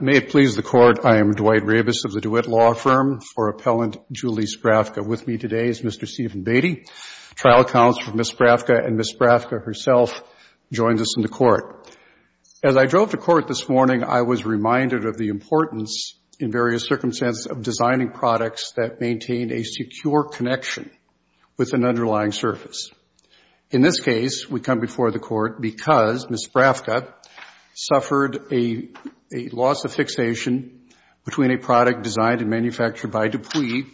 May it please the Court, I am Dwight Rabus of the DeWitt Law Firm for Appellant Julie Sprafka. With me today is Mr. Stephen Beatty, Trial Counsel for Ms. Sprafka, and Ms. Sprafka herself joins us in the Court. As I drove to Court this morning, I was reminded of the need to maintain a secure connection with an underlying service. In this case, we come before the Court because Ms. Sprafka suffered a loss of fixation between a product designed and manufactured by DuPuis,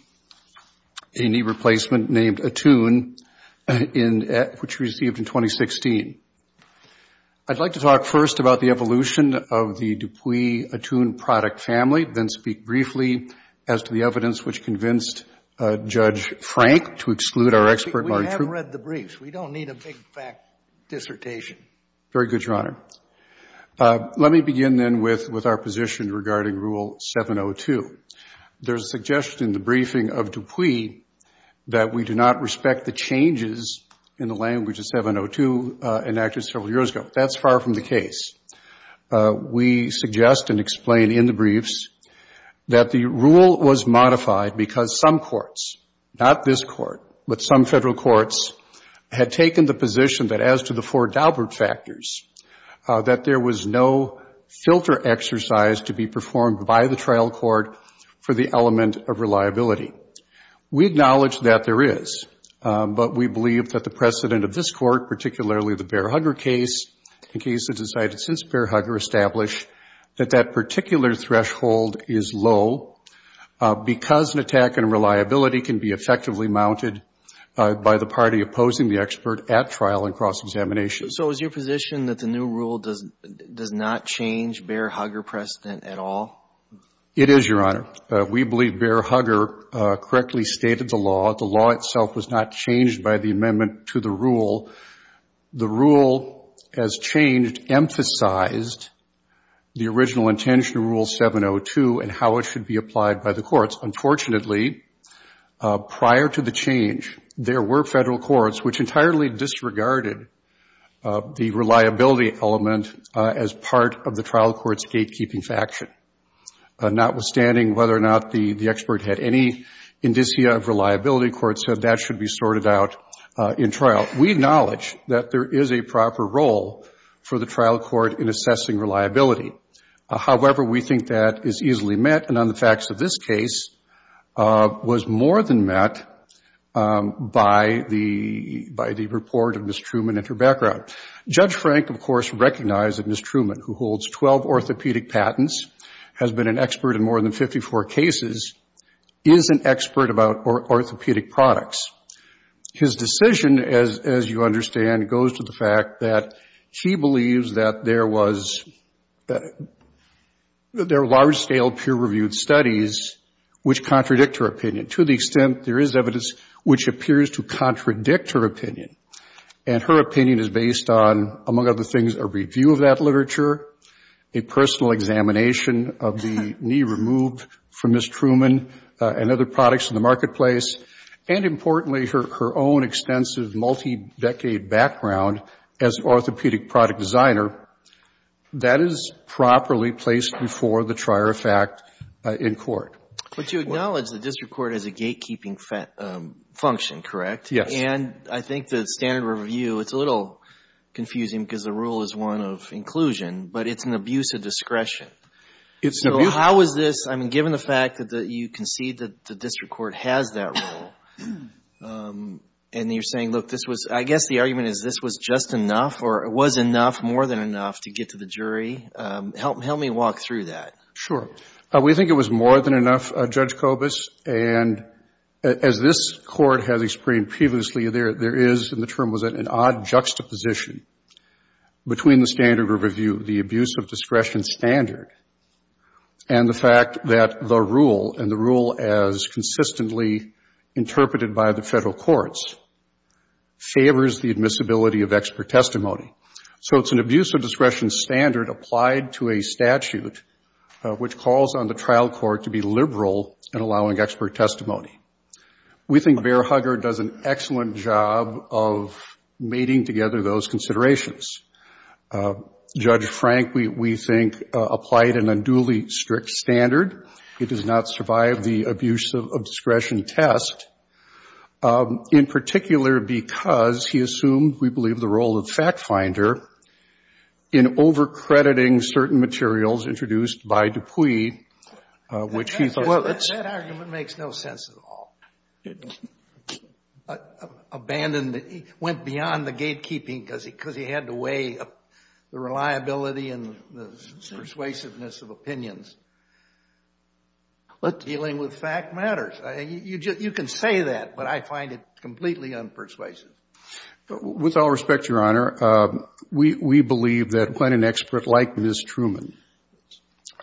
a knee replacement named Attune, which she received in 2016. I'd like to talk first about the evolution of the DuPuis Attune product family, then speak briefly as to the evidence which convinced Judge Frank to exclude our expert, Marty We have read the briefs. We don't need a big-fact dissertation. Very good, Your Honor. Let me begin, then, with our position regarding Rule 702. There is a suggestion in the briefing of DuPuis that we do not respect the changes in the language of 702 enacted several years ago. That's far from the case. We suggest and explain in the briefs that the rule was modified because some courts, not this Court, but some Federal courts had taken the position that as to the four Daubert factors, that there was no filter exercise to be performed by the trial court for the element of reliability. We acknowledge that there is, but we believe that the precedent of this Court, particularly the Bear-Hugger case and cases decided since Bear-Hugger, establish that that particular threshold is low because an attack on reliability can be effectively mounted by the party opposing the expert at trial and cross-examination. So is your position that the new rule does not change Bear-Hugger precedent at all? It is, Your Honor. We believe Bear-Hugger correctly stated the law. The law itself was not changed by the amendment to the rule. The rule, as changed, emphasized the original intention of Rule 702 and how it should be applied by the courts. Unfortunately, prior to the change, there were Federal courts which entirely disregarded the reliability element as part of the trial court's gatekeeping faction. Notwithstanding whether or not the expert had any indicia of reliability, the court said that should be sorted out in trial. We acknowledge that there is a proper role for the trial court in assessing reliability. However, we think that is easily met, and on the facts of this case, was more than met by the report of Ms. Truman and her background. Judge Frank, of course, recognized that Ms. Truman, who holds 12 orthopedic patents, has been an expert in more than 54 cases, is an expert about orthopedic products. His decision, as you understand, goes to the fact that he believes that there were large-scale peer-reviewed studies which contradict her opinion, to the extent there is evidence which appears to contradict her opinion. And her opinion is based on, among other things, a review of that literature, a personal examination of the knee removed from Ms. Truman and other products in the marketplace, and importantly, her own extensive multi-decade background as an orthopedic product designer. That is properly placed before the trier of fact in But you acknowledge the district court has a gatekeeping function, correct? Yes. And I think the standard review, it's a little confusing because the rule is one of inclusion, but it's an abuse of discretion. It's an abuse of discretion. So how is this, I mean, given the fact that you concede that the district court has that rule, and you're saying, look, this was, I guess the argument is this was just enough or it was enough, more than enough, to get to the jury. Help me walk through that. Sure. We think it was more than enough, Judge Kobus, and as this Court has explained previously, there is, and the term was an odd juxtaposition between the standard review, the abuse of discretion standard, and the fact that the rule, and the rule as consistently interpreted by the Federal courts, favors the admissibility of expert testimony. So it's an abuse of discretion standard applied to a statute, which calls on the trial court to be liberal in allowing expert testimony. We think Bear Hugger does an excellent job of mating together those considerations. Judge Frank, we think, applied an unduly strict standard. He does not survive the abuse of discretion test, in particular because he assumed, we believe, the role of fact finder in over-crediting certain materials introduced by Dupuy, which he thought... Well, that argument makes no sense at all. Abandoned, went beyond the gatekeeping because he had to weigh up the reliability and the persuasiveness of opinions. But dealing with fact matters. You can say that, but I find it completely unpersuasive. With all respect, Your Honor, we believe that when an expert like Ms. Truman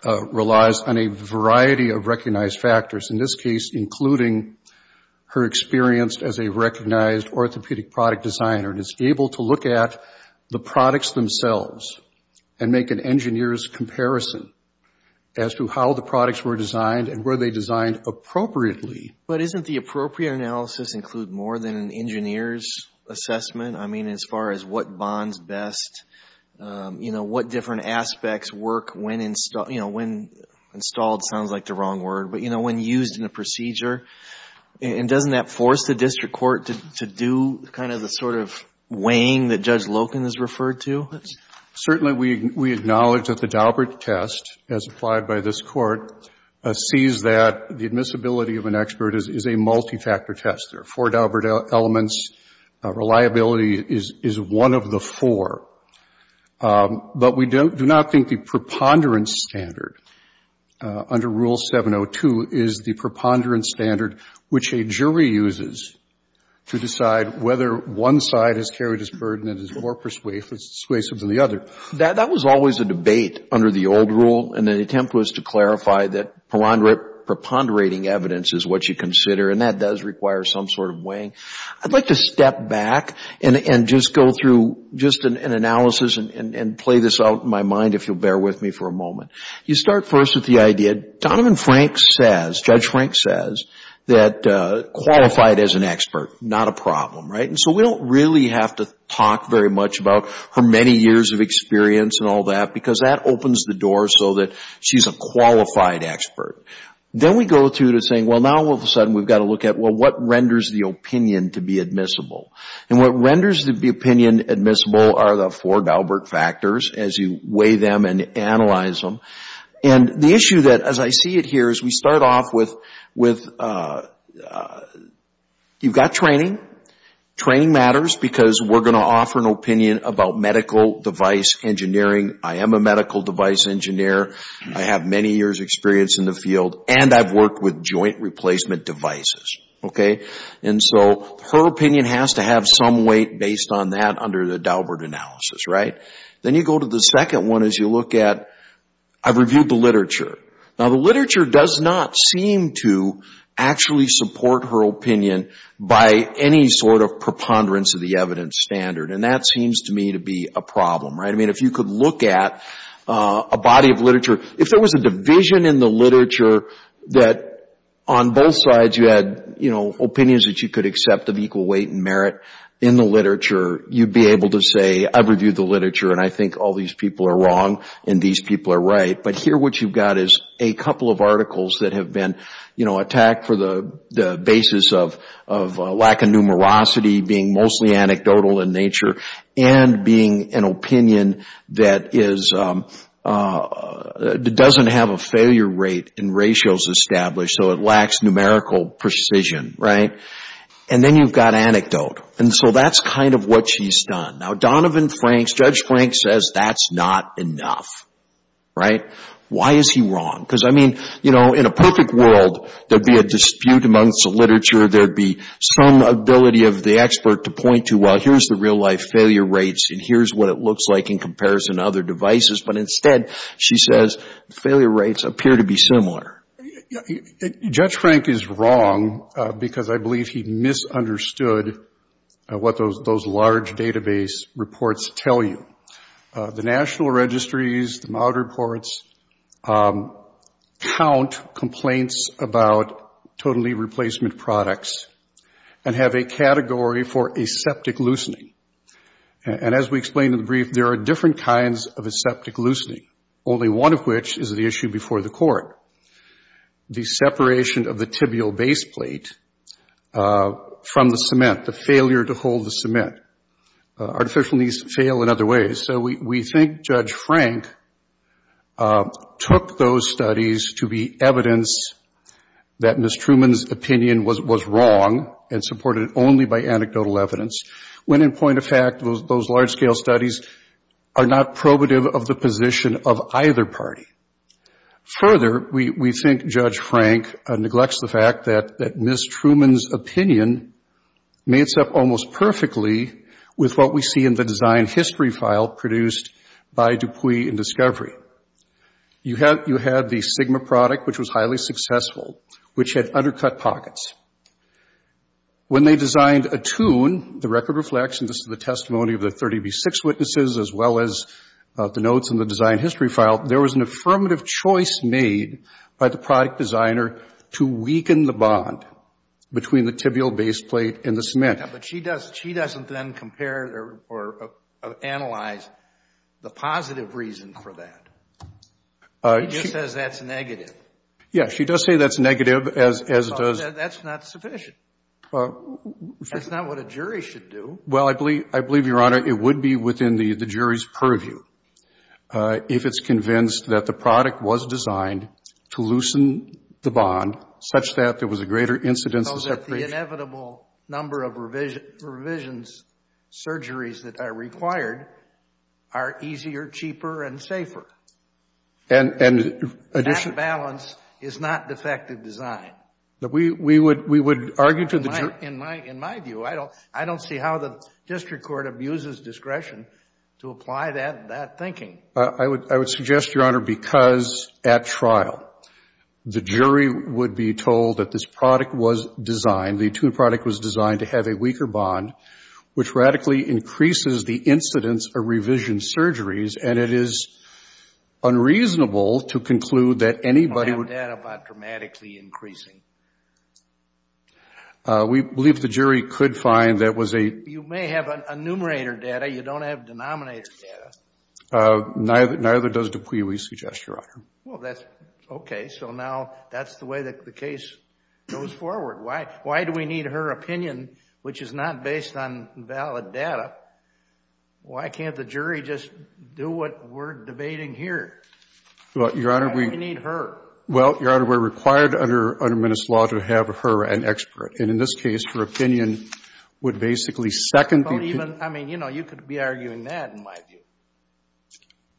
relies on a variety of recognized factors, in this case, including her experience as a recognized orthopedic product designer, and is able to look at the products themselves and make an engineer's comparison as to how the products were designed and were they designed appropriately. But isn't the appropriate analysis include more than an engineer's assessment? I mean, as far as what bonds best, you know, what different aspects work when, you know, when installed sounds like the wrong word, but, you know, when used in a procedure? And doesn't that force the district court to do kind of the sort of weighing that Judge Loken has referred to? Certainly, we acknowledge that the Daubert test, as applied by this Court, sees that the admissibility of an expert is a multi-factor test. There are four Daubert elements. Reliability is one of the four. But we do not think the preponderance standard under Rule 702 is the preponderance standard which a jury uses to decide whether one side has carried its burden and is more persuasive than the other. That was always a debate under the old rule. And the attempt was to clarify that preponderating evidence is what you consider. And that does require some sort of weighing. I'd like to step back and just go through just an analysis and play this out in my mind, if you'll bear with me for a moment. You start first with the idea, Donovan Frank says, Judge Frank says, that qualified as an expert, not a problem, right? And so we don't really have to talk very much about her many years of experience and all that because that opens the door so that she's a qualified expert. Then we go through to saying, well, now all of a sudden we've got to look at, well, what renders the opinion to be admissible? And what renders the opinion admissible are the four Daubert factors as you weigh them and analyze them. And the issue that, as I see it here, is we start off with, you've got training. Training matters because we're going to offer an opinion about medical device engineering. I am a medical device engineer. I have many years experience in the field and I've worked with joint replacement devices. Okay. And so her opinion has to have some weight based on that under the Daubert analysis, right? Then you go to the second one as you look at, I've reviewed the literature. Now, the literature does not seem to actually support her opinion by any sort of preponderance of the evidence standard. And that seems to me to be a problem, right? I mean, if you could look at a body of literature, if there was a division in the literature that on both sides you had, you know, opinions that you could accept of equal weight and merit in the literature, you'd be able to say, I've reviewed the literature and I think all these people are wrong and these people are right. But here what you've got is a couple of articles that have been, you know, attacked for the basis of lack of numerosity being mostly anecdotal in nature and being an opinion that doesn't have a failure rate in ratios established. So it lacks numerical precision, right? And then you've got anecdote. And so that's kind of what she's done. Now, Donovan Franks, Judge Franks says that's not enough, right? Why is he wrong? Because, I mean, you know, in a perfect world, there'd be a dispute amongst the literature. There'd be some ability of the expert to point to, well, here's the real thing. This is what it looks like in comparison to other devices. But instead, she says, failure rates appear to be similar. Judge Frank is wrong because I believe he misunderstood what those large database reports tell you. The National Registries, the MAUD reports count complaints about totally replacement products and have a category for aseptic loosening. And as we explained in the brief, there are different kinds of aseptic loosening, only one of which is the issue before the court. The separation of the tibial base plate from the cement, the failure to hold the cement. Artificial knees fail in other ways. So we think Judge Frank took those studies to be evidence that Ms. Truman's point of fact, those large-scale studies are not probative of the position of either party. Further, we think Judge Frank neglects the fact that Ms. Truman's opinion matches up almost perfectly with what we see in the design history file produced by Dupuis and Discovery. You have the Sigma product, which was highly successful, which had undercut pockets. When they designed a tune, the record reflects, and this is the testimony of the 30B6 witnesses as well as the notes in the design history file, there was an affirmative choice made by the product designer to weaken the bond between the tibial base plate and the cement. But she doesn't then compare or analyze the positive reason for that. She just says that's negative. Yeah, she does say that's negative as it does. That's not sufficient. That's not what a jury should do. Well, I believe, I believe, Your Honor, it would be within the jury's purview if it's convinced that the product was designed to loosen the bond such that there was a greater incidence of separation. So that the inevitable number of revisions, surgeries that are required are easier, cheaper, and safer. And that balance is not defective design. But we would argue to the jury. In my view, I don't see how the district court abuses discretion to apply that thinking. I would suggest, Your Honor, because at trial, the jury would be told that this product was designed, the tune product was designed to have a weaker bond, which radically increases the incidence of revision surgeries. And it is unreasonable to conclude that anybody would. That about dramatically increasing. We believe the jury could find that was a. You may have a numerator data. You don't have denominator data. Neither does Dupuy, we suggest, Your Honor. Well, that's okay. So now that's the way that the case goes forward. Why? Why do we need her opinion, which is not based on valid data? Why can't the jury just do what we're debating here? Well, Your Honor, we. Why do we need her? Well, Your Honor, we're required under, under Minnesota law to have her an expert. And in this case, her opinion would basically second. Even, I mean, you know, you could be arguing that in my view.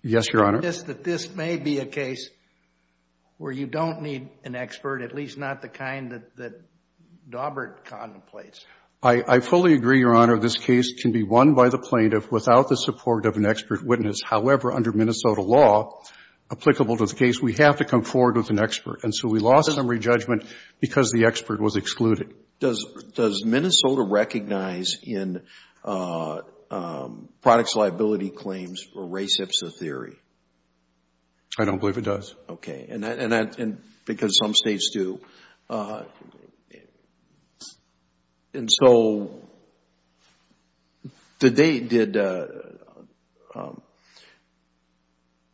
Yes, Your Honor. Just that this may be a case where you don't need an expert, at least not the kind that, that Daubert contemplates. I fully agree, Your Honor. This case can be won by the plaintiff without the support of an expert witness. However, under Minnesota law, applicable to the case, we have to come forward with an expert. And so we lost some re-judgment because the expert was excluded. Does, does Minnesota recognize in products liability claims a race-hypso theory? I don't believe it does. Okay. And that, and that, and because some states do. And so did they, did,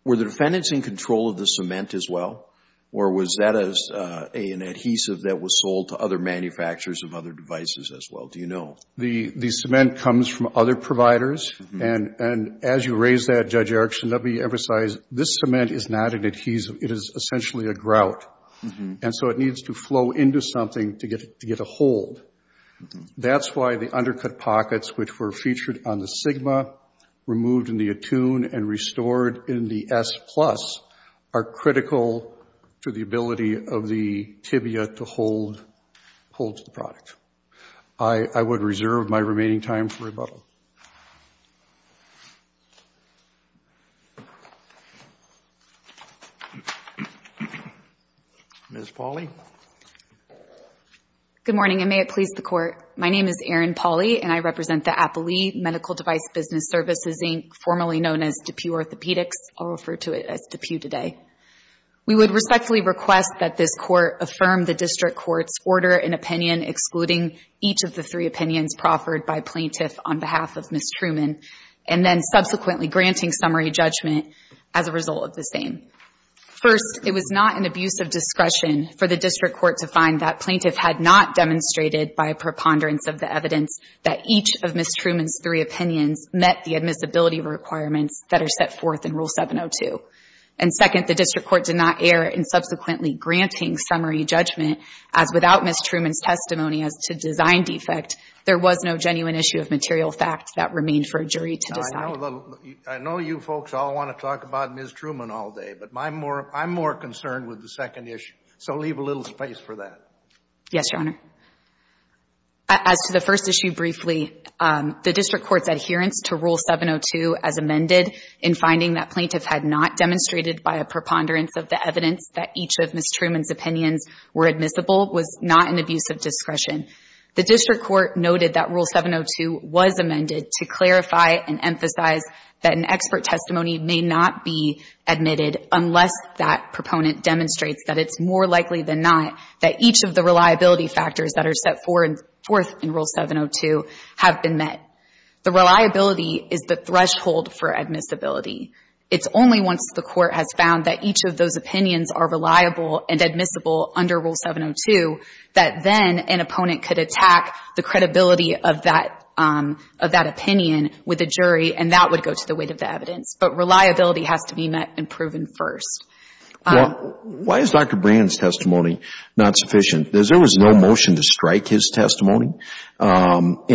were the defendants in control of the cement as well? Or was that a, an adhesive that was sold to other manufacturers of other devices as well? Do you know? The, the cement comes from other providers. And, and as you raise that, Judge Erickson, let me emphasize, this cement is not an adhesive. It is essentially a grout. And so it needs to flow into something to get, to get a hold. That's why the undercut pockets, which were featured on the Sigma, removed in the Attune, and restored in the S plus, are critical to the ability of the tibia to hold, hold to the product. I, I would reserve my remaining time for rebuttal. Ms. Pauley. Good morning. And may it please the court. My name is Erin Pauley and I represent the Appley Medical Device Business Services, Inc., formerly known as DePue Orthopedics. I'll refer to it as DePue today. We would respectfully request that this court affirm the district court's order and opinion, excluding each of the three opinions proffered by plaintiff on behalf of Ms. Truman, and then subsequently granting summary judgment as a result of the same. First, it was not an abuse of discretion for the district court to find that plaintiff had not demonstrated by a preponderance of the evidence that each of Ms. Truman's three opinions met the admissibility requirements that are set forth in Rule 702. And second, the district court did not err in subsequently granting summary judgment as without Ms. Truman's testimony as to design defect, there was no genuine issue of material facts that remained for a jury to decide. I know you folks all want to talk about Ms. Truman all day, but I'm more concerned with the second issue. So leave a little space for that. Yes, Your Honor. As to the first issue briefly, the district court's adherence to Rule 702 as amended in finding that plaintiff had not demonstrated by a preponderance of the evidence that each of Ms. Truman's opinions were admissible was not an abuse of The district court noted that Rule 702 was amended to clarify and emphasize that an expert testimony may not be admitted unless that proponent demonstrates that it's more likely than not that each of the reliability factors that are set forth in Rule 702 have been met. The reliability is the threshold for admissibility. It's only once the court has found that each of those opinions are reliable and admissible under Rule 702 that then an opponent could attack the credibility of that opinion with a jury, and that would go to the weight of the evidence. But reliability has to be met and proven first. Why is Dr. Brand's testimony not sufficient? Because there was no motion to strike his testimony or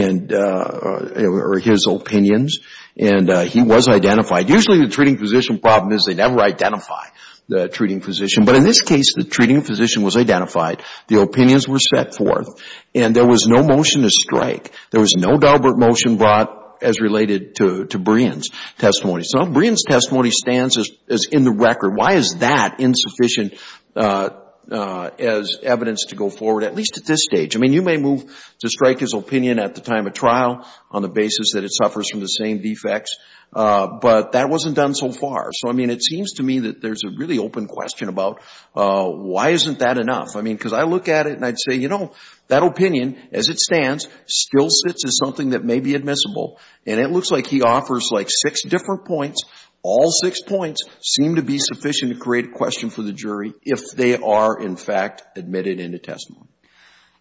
his opinions, and he was identified. Usually the treating physician problem is they never identify the treating physician. But in this case, the treating physician was identified. The opinions were set forth, and there was no motion to strike. There was no deliberate motion brought as related to Brian's testimony. So Brian's testimony stands as in the record. Why is that insufficient as evidence to go forward, at least at this stage? I mean, you may move to strike his opinion at the time of trial on the basis that it suffers from the same defects, but that wasn't done so far. So, I mean, it seems to me that there's a really open question about why isn't that enough? I mean, because I look at it and I'd say, you know, that opinion, as it stands, still sits as something that may be admissible. And it looks like he offers like six different points. All six points seem to be sufficient to create a question for the jury if they are, in fact, admitted in the testimony.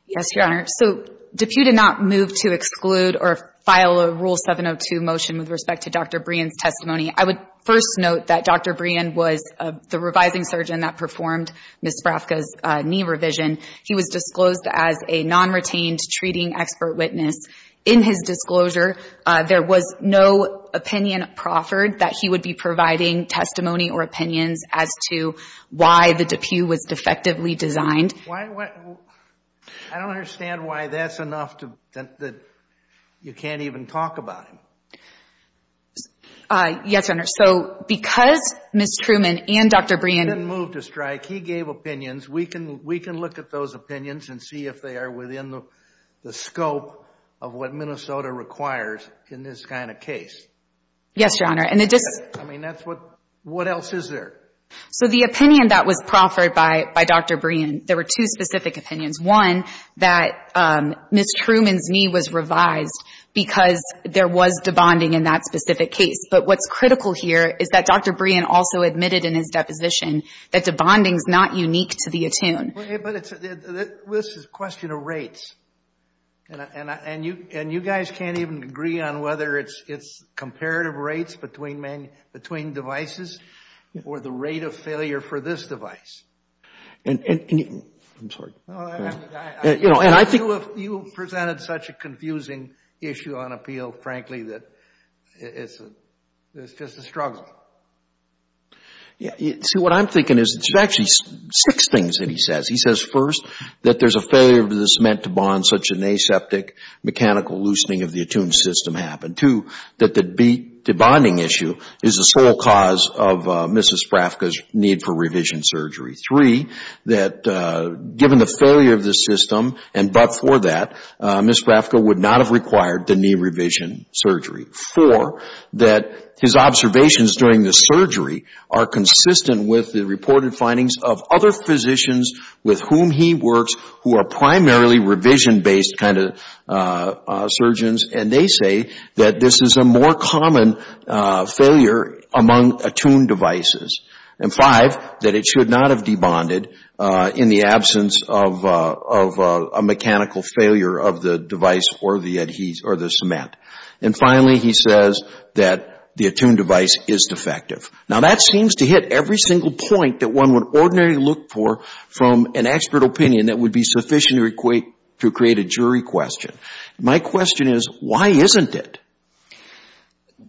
Yes, Your Honor. So if you did not move to exclude or file a Rule 702 motion with respect to Dr. Brian's testimony, I would first note that Dr. Brian was the revising surgeon that performed Ms. Spravka's knee revision. He was disclosed as a non-retained treating expert witness. In his disclosure, there was no opinion proffered that he would be providing testimony or opinions as to why the DePuy was defectively designed. Why? I don't understand why that's enough that you can't even talk about him. Yes, Your Honor. So because Ms. Truman and Dr. didn't move to strike, he gave opinions. We can look at those opinions and see if they are within the scope of what Minnesota requires in this kind of case. Yes, Your Honor. And it just I mean, that's what, what else is there? So the opinion that was proffered by Dr. Brian, there were two specific opinions. One, that Ms. Truman's knee was revised because there was de-bonding in that specific case. But what's critical here is that Dr. Brian also admitted in his deposition that de-bonding is not unique to the attune. But this is a question of rates. And you guys can't even agree on whether it's comparative rates between devices or the rate of failure for this device. And I'm sorry. You know, and I think You have presented such a confusing issue on appeal, frankly, that it's just a struggle. You see, what I'm thinking is it's actually six things that he says. He says, first, that there's a failure of the cement to bond, such an aseptic mechanical loosening of the attune system happened. Two, that the de-bonding issue is the sole cause of Mrs. Sprafka's need for revision surgery. Three, that given the failure of the system, and but for that, Mrs. Sprafka would not have required the knee revision surgery. Four, that his observations during the surgery are consistent with the reported findings of other physicians with whom he works who are primarily revision-based kind of surgeons, and they say that this is a more common failure among attune devices. And five, that it should not have de-bonded in the absence of a mechanical failure of the device or the cement. And finally, he says that the attune device is defective. Now, that seems to hit every single point that one would ordinarily look for from an expert opinion that would be sufficient to create a jury question. My question is, why isn't it?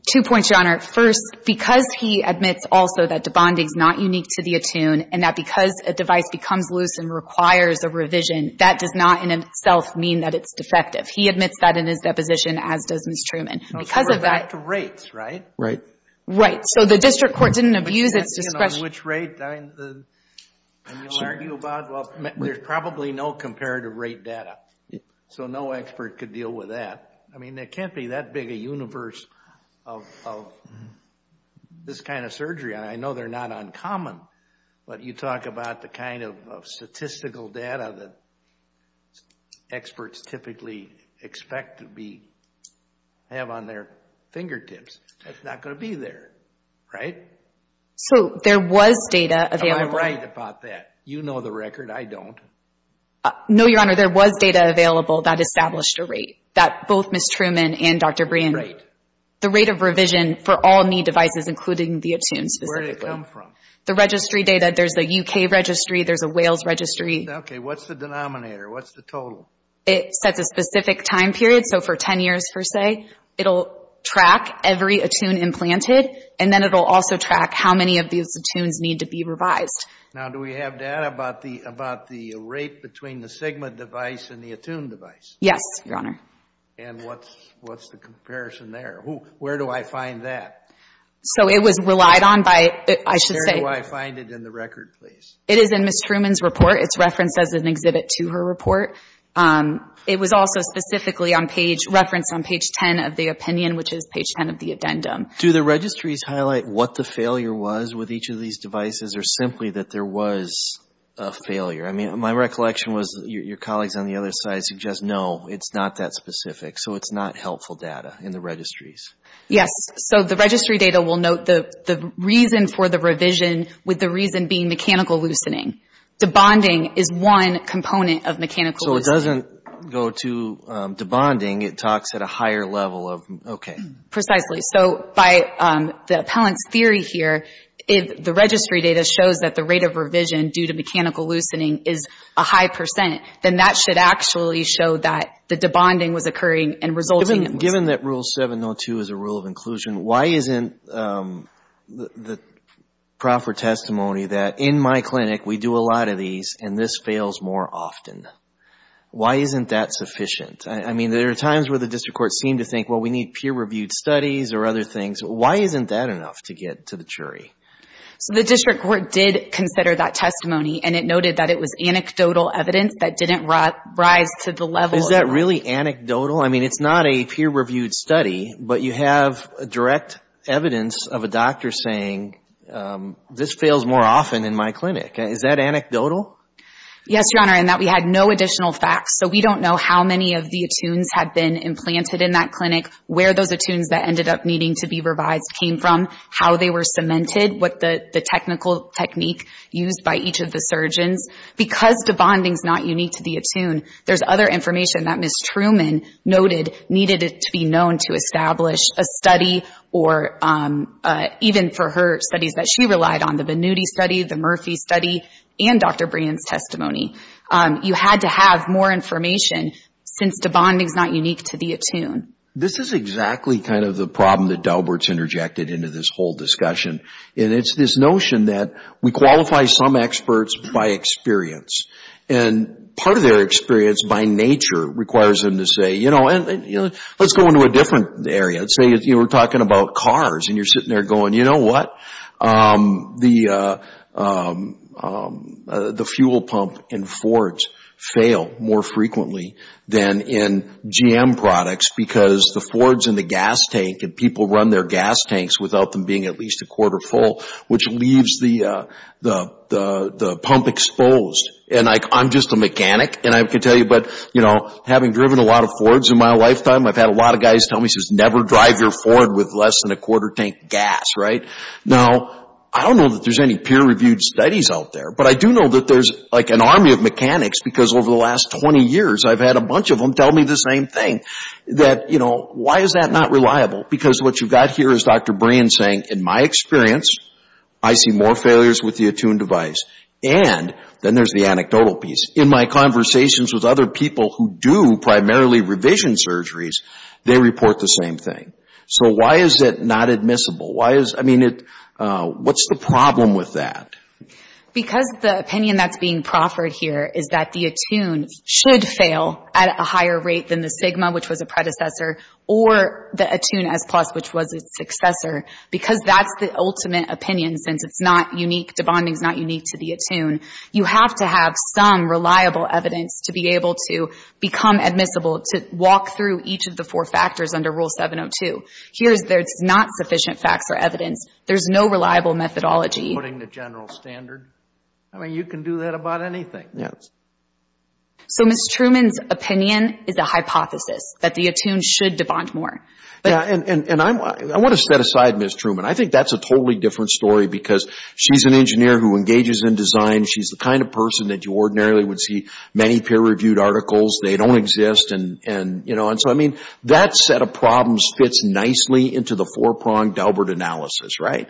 Two points, Your Honor. First, because he admits also that de-bonding is not unique to the attune, and that because a device becomes loose and requires a revision, that does not in itself mean that it's defective. He admits that in his deposition, as does Ms. Truman. Because of that... So, we're back to rates, right? Right. Right. So, the district court didn't abuse its discretion... Which rate, and you'll argue about, well, there's probably no comparative rate data. So, no expert could deal with that. I mean, there can't be that big a universe of this kind of surgery. And I know they're not uncommon, but you talk about the kind of statistical data that experts typically expect to have on their fingertips. That's not going to be there, right? So, there was data available... Am I right about that? You know the record. I don't. No, Your Honor, there was data available that established a rate. That both Ms. Truman and Dr. Brien... The rate of revision for all knee devices, including the Attune, specifically. Where did it come from? The registry data. There's a UK registry. There's a Wales registry. Okay. What's the denominator? What's the total? It sets a specific time period. So, for 10 years, per se, it'll track every Attune implanted, and then it'll also track how many of these Attunes need to be revised. Now, do we have data about the rate between the Sigma device and the Attune device? Yes, Your Honor. And what's the comparison there? Where do I find that? So, it was relied on by... Where do I find it in the record, please? It is in Ms. Truman's report. It's referenced as an exhibit to her report. It was also specifically referenced on page 10 of the opinion, which is page 10 of the addendum. Do the registries highlight what the failure was with each of these devices, or simply that there was a failure? I mean, my recollection was your colleagues on the other side suggest, no, it's not that specific. So, it's not helpful data in the registries. Yes. So, the registry data will note the reason for the revision with the reason being mechanical loosening. Debonding is one component of mechanical loosening. So, it doesn't go to debonding. It talks at a higher level of... Okay. Precisely. So, by the appellant's theory here, if the registry data shows that the rate of revision due to mechanical loosening is a high percent, then that should actually show that the debonding was occurring and resulting in... Given that Rule 702 is a rule of inclusion, why isn't the proper testimony that, in my clinic, we do a lot of these and this fails more often? Why isn't that sufficient? I mean, there are times where the district court seem to think, well, we need peer-reviewed studies or other things. Why isn't that enough to get to the jury? So, the district court did consider that testimony and it noted that it was anecdotal evidence that didn't rise to the level... Is that really anecdotal? I mean, it's not a peer-reviewed study, but you have direct evidence of a doctor saying, this fails more often in my clinic. Is that anecdotal? Yes, Your Honor, and that we had no additional facts. So, we don't know how many of the attunes had been implanted in that clinic, where those attunes that ended up needing to be revised came from, how they were cemented, what the technical technique used by each of the surgeons. Because the bonding's not unique to the attune, there's other information that Ms. Truman noted needed to be known to establish a study or even for her studies that she relied on, the Venuti study, the Murphy study, and Dr. Brand's testimony. You had to have more information since the bonding's not unique to the attune. This is exactly kind of the problem that Daubert's interjected into this whole discussion. And it's this notion that we qualify some experts by experience. And part of their experience, by nature, requires them to say, you know, let's go into a different area. Let's say you were talking about cars and you're sitting there going, you know what? The fuel pump in Fords fail more frequently than in GM products because the Fords and the gas tank, and people run their gas tanks without them being at least a quarter full, which leaves the pump exposed. And I'm just a mechanic, and I can tell you, but, you know, having driven a lot of Fords in my lifetime, I've had a lot of guys tell me, he says, never drive your Ford with less than a quarter tank gas, right? Now, I don't know that there's any peer-reviewed studies out there, but I do know that there's like an army of mechanics because over the last 20 years, I've had a bunch of them tell me the same thing, that, you know, why is that not reliable? Because what you've got here is Dr. Brain saying, in my experience, I see more failures with the Attune device and, then there's the anecdotal piece, in my conversations with other people who do primarily revision surgeries, they report the same thing. So why is it not admissible? Why is, I mean, what's the problem with that? Because the opinion that's being proffered here is that the Attune should fail at a higher rate than the Sigma, which was a predecessor, or the Attune S+, which was its successor, because that's the ultimate opinion, since it's not unique, the bonding's not unique to the Attune, you have to have some reliable evidence to be able to become admissible, to walk through each of the four factors under Rule 702. Here's, there's not sufficient facts or evidence, there's no reliable methodology. Putting the general standard, I mean, you can do that about anything. So Ms. Truman's opinion is a hypothesis, that the Attune should debond more. Yeah, and I want to set aside Ms. Truman, I think that's a totally different story, because she's an engineer who engages in design, she's the kind of person that you ordinarily would see many peer-reviewed articles, they don't exist, and, you know, and so, I mean, that set of problems fits nicely into the four-pronged Delbert analysis, right?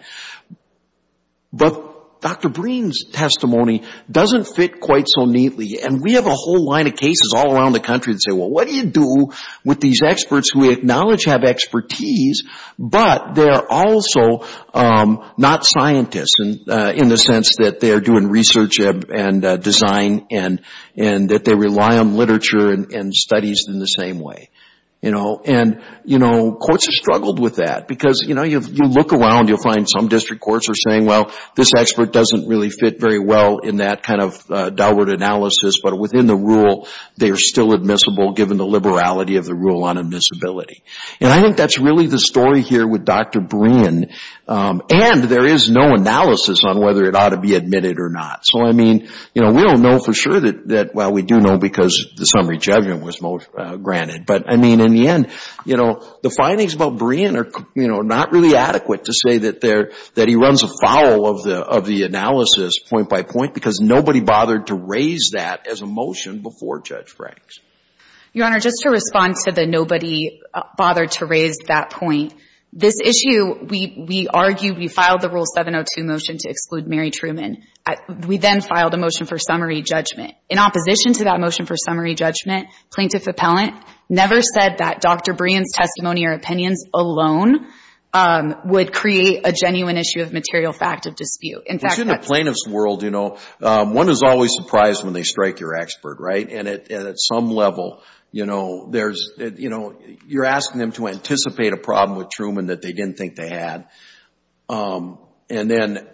But Dr. Breen's testimony doesn't fit quite so neatly, and we have a whole line of cases all around the country that say, well, what do you do with these experts who we acknowledge have expertise, but they're also not scientists in the sense that they're doing research and design, and that they rely on literature and studies in the same way, you know? And, you know, courts have struggled with that, because, you know, you look around, you'll find some district courts are saying, well, this expert doesn't really fit very well in that kind of Delbert analysis, but within the rule, they are still admissible given the liberality of the rule on admissibility. And I think that's really the story here with Dr. Breen, and there is no analysis on whether it ought to be admitted or not. So, I mean, you know, we don't know for sure that, well, we do know because the summary judgment was most granted, but, I mean, in the end, you know, the findings about Breen are, you know, not really adequate to say that there, that he runs afoul of the analysis point by point, because nobody bothered to raise that as a motion before Judge Franks. Your Honor, just to respond to the nobody bothered to raise that point, this issue, we argued, we filed the rule 702 motion to exclude Mary Truman. We then filed a motion for summary judgment. In opposition to that motion for summary judgment, plaintiff appellant never said that Dr. Breen's testimony or opinions alone would create a genuine issue of material fact of dispute. In fact, that's- In a plaintiff's world, you know, one is always surprised when they strike your expert, right? And at some level, you know, there's, you know, you're asking them to anticipate a problem with Truman that they didn't think they had, and then,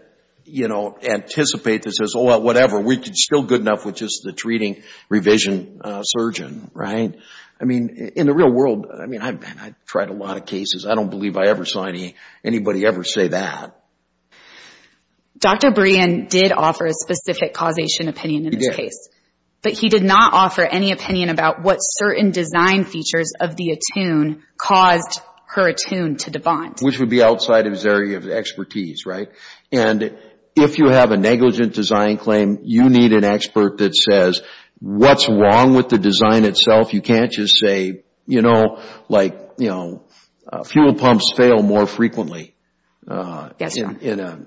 you know, anticipate this as, oh, well, whatever, we're still good enough with just the treating revision surgeon, right? I mean, in the real world, I mean, I've tried a lot of cases. I don't believe I ever saw anybody ever say that. Dr. Breen did offer a specific causation opinion in this case. But he did not offer any opinion about what certain design features of the attune caused her attune to debant. Which would be outside of his area of expertise, right? And if you have a negligent design claim, you need an expert that says, what's wrong with the design itself? You can't just say, you know, like, you know, fuel pumps fail more frequently. Yes, sir. In a,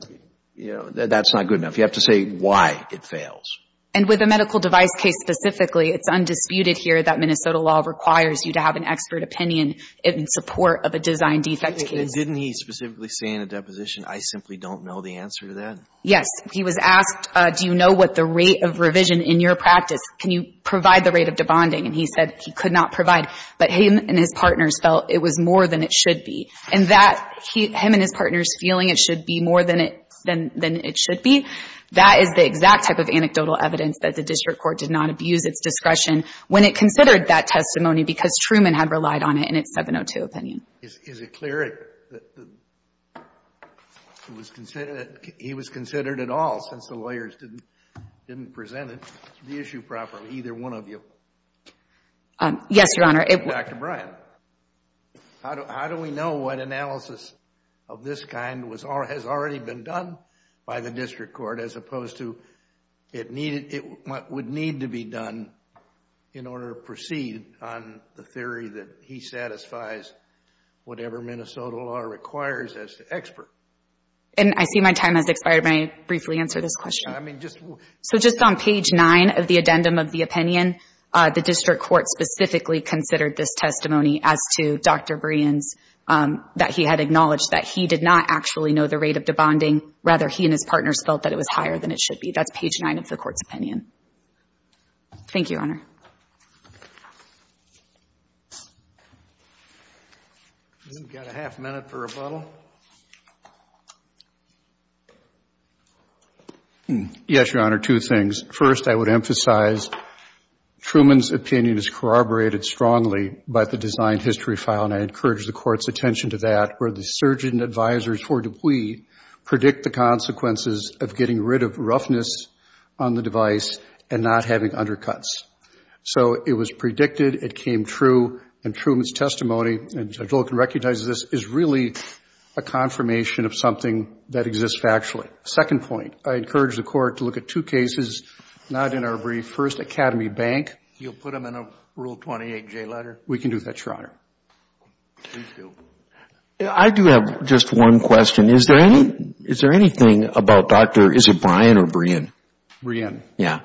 you know, that's not good enough. You have to say why it fails. And with a medical device case specifically, it's undisputed here that Minnesota law requires you to have an expert opinion in support of a design defect case. Didn't he specifically say in a deposition, I simply don't know the answer to that? Yes, he was asked, do you know what the rate of revision in your practice, can you provide the rate of debonding? And he said he could not provide. But him and his partners felt it was more than it should be. And that, him and his partners feeling it should be more than it should be, that is the exact type of anecdotal evidence that the district court did not abuse its discretion when it considered that testimony, because Truman had relied on it in its 702 opinion. Is it clear that he was considered at all, since the lawyers didn't present the issue properly, to either one of you? Yes, Your Honor. Dr. Bryan, how do we know what analysis of this kind has already been done by the district court, as opposed to what would need to be done in order to proceed on the theory that he satisfies whatever Minnesota law requires as the expert? And I see my time has expired. May I briefly answer this question? So just on page 9 of the addendum of the opinion, the district court specifically considered this testimony as to Dr. Bryan's, that he had acknowledged that he did not actually know the rate of debonding. Rather, he and his partners felt that it was higher than it should be. That's page 9 of the court's opinion. Thank you, Your Honor. We've got a half minute for rebuttal. Yes, Your Honor, two things. First, I would emphasize, Truman's opinion is corroborated strongly by the design history file, and I encourage the court's attention to that, where the surgeon advisors for Dupuy predict the consequences of getting rid of roughness on the device and not having undercuts. So it was predicted, it came true, and Truman's testimony, and Judge Loken recognizes this, is really a confirmation of something that exists factually. Second point, I encourage the court to look at two cases, not in our brief, first, Academy Bank. You'll put them in a Rule 28J letter? We can do that, Your Honor. Please do. I do have just one question. Is there anything about Dr., is it Bryan or Brein? Brein. Yeah.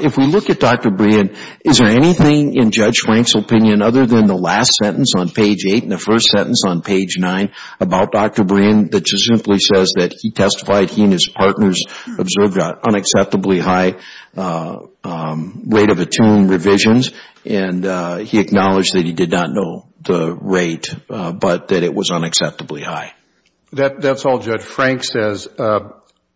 If we look at Dr. Brein, is there anything in Judge Frank's opinion, other than the last sentence on page 8 and the first sentence on page 9, about Dr. Brein, that just simply says that he testified he and his partners observed an unacceptably high rate of attuned revisions, and he acknowledged that he did not know the rate, but that it was unacceptably high. That's all Judge Frank says.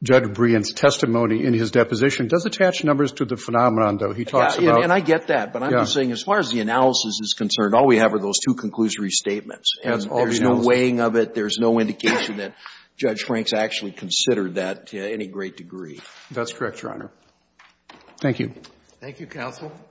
Judge Brein's testimony in his deposition does attach numbers to the phenomenon, though. He talks about... And I get that, but I'm just saying, as far as the analysis is concerned, all we have are those two conclusory statements. And there's no weighing of it. There's no indication that Judge Frank's actually considered that to any great degree. That's correct, Your Honor. Thank you. Thank you, counsel.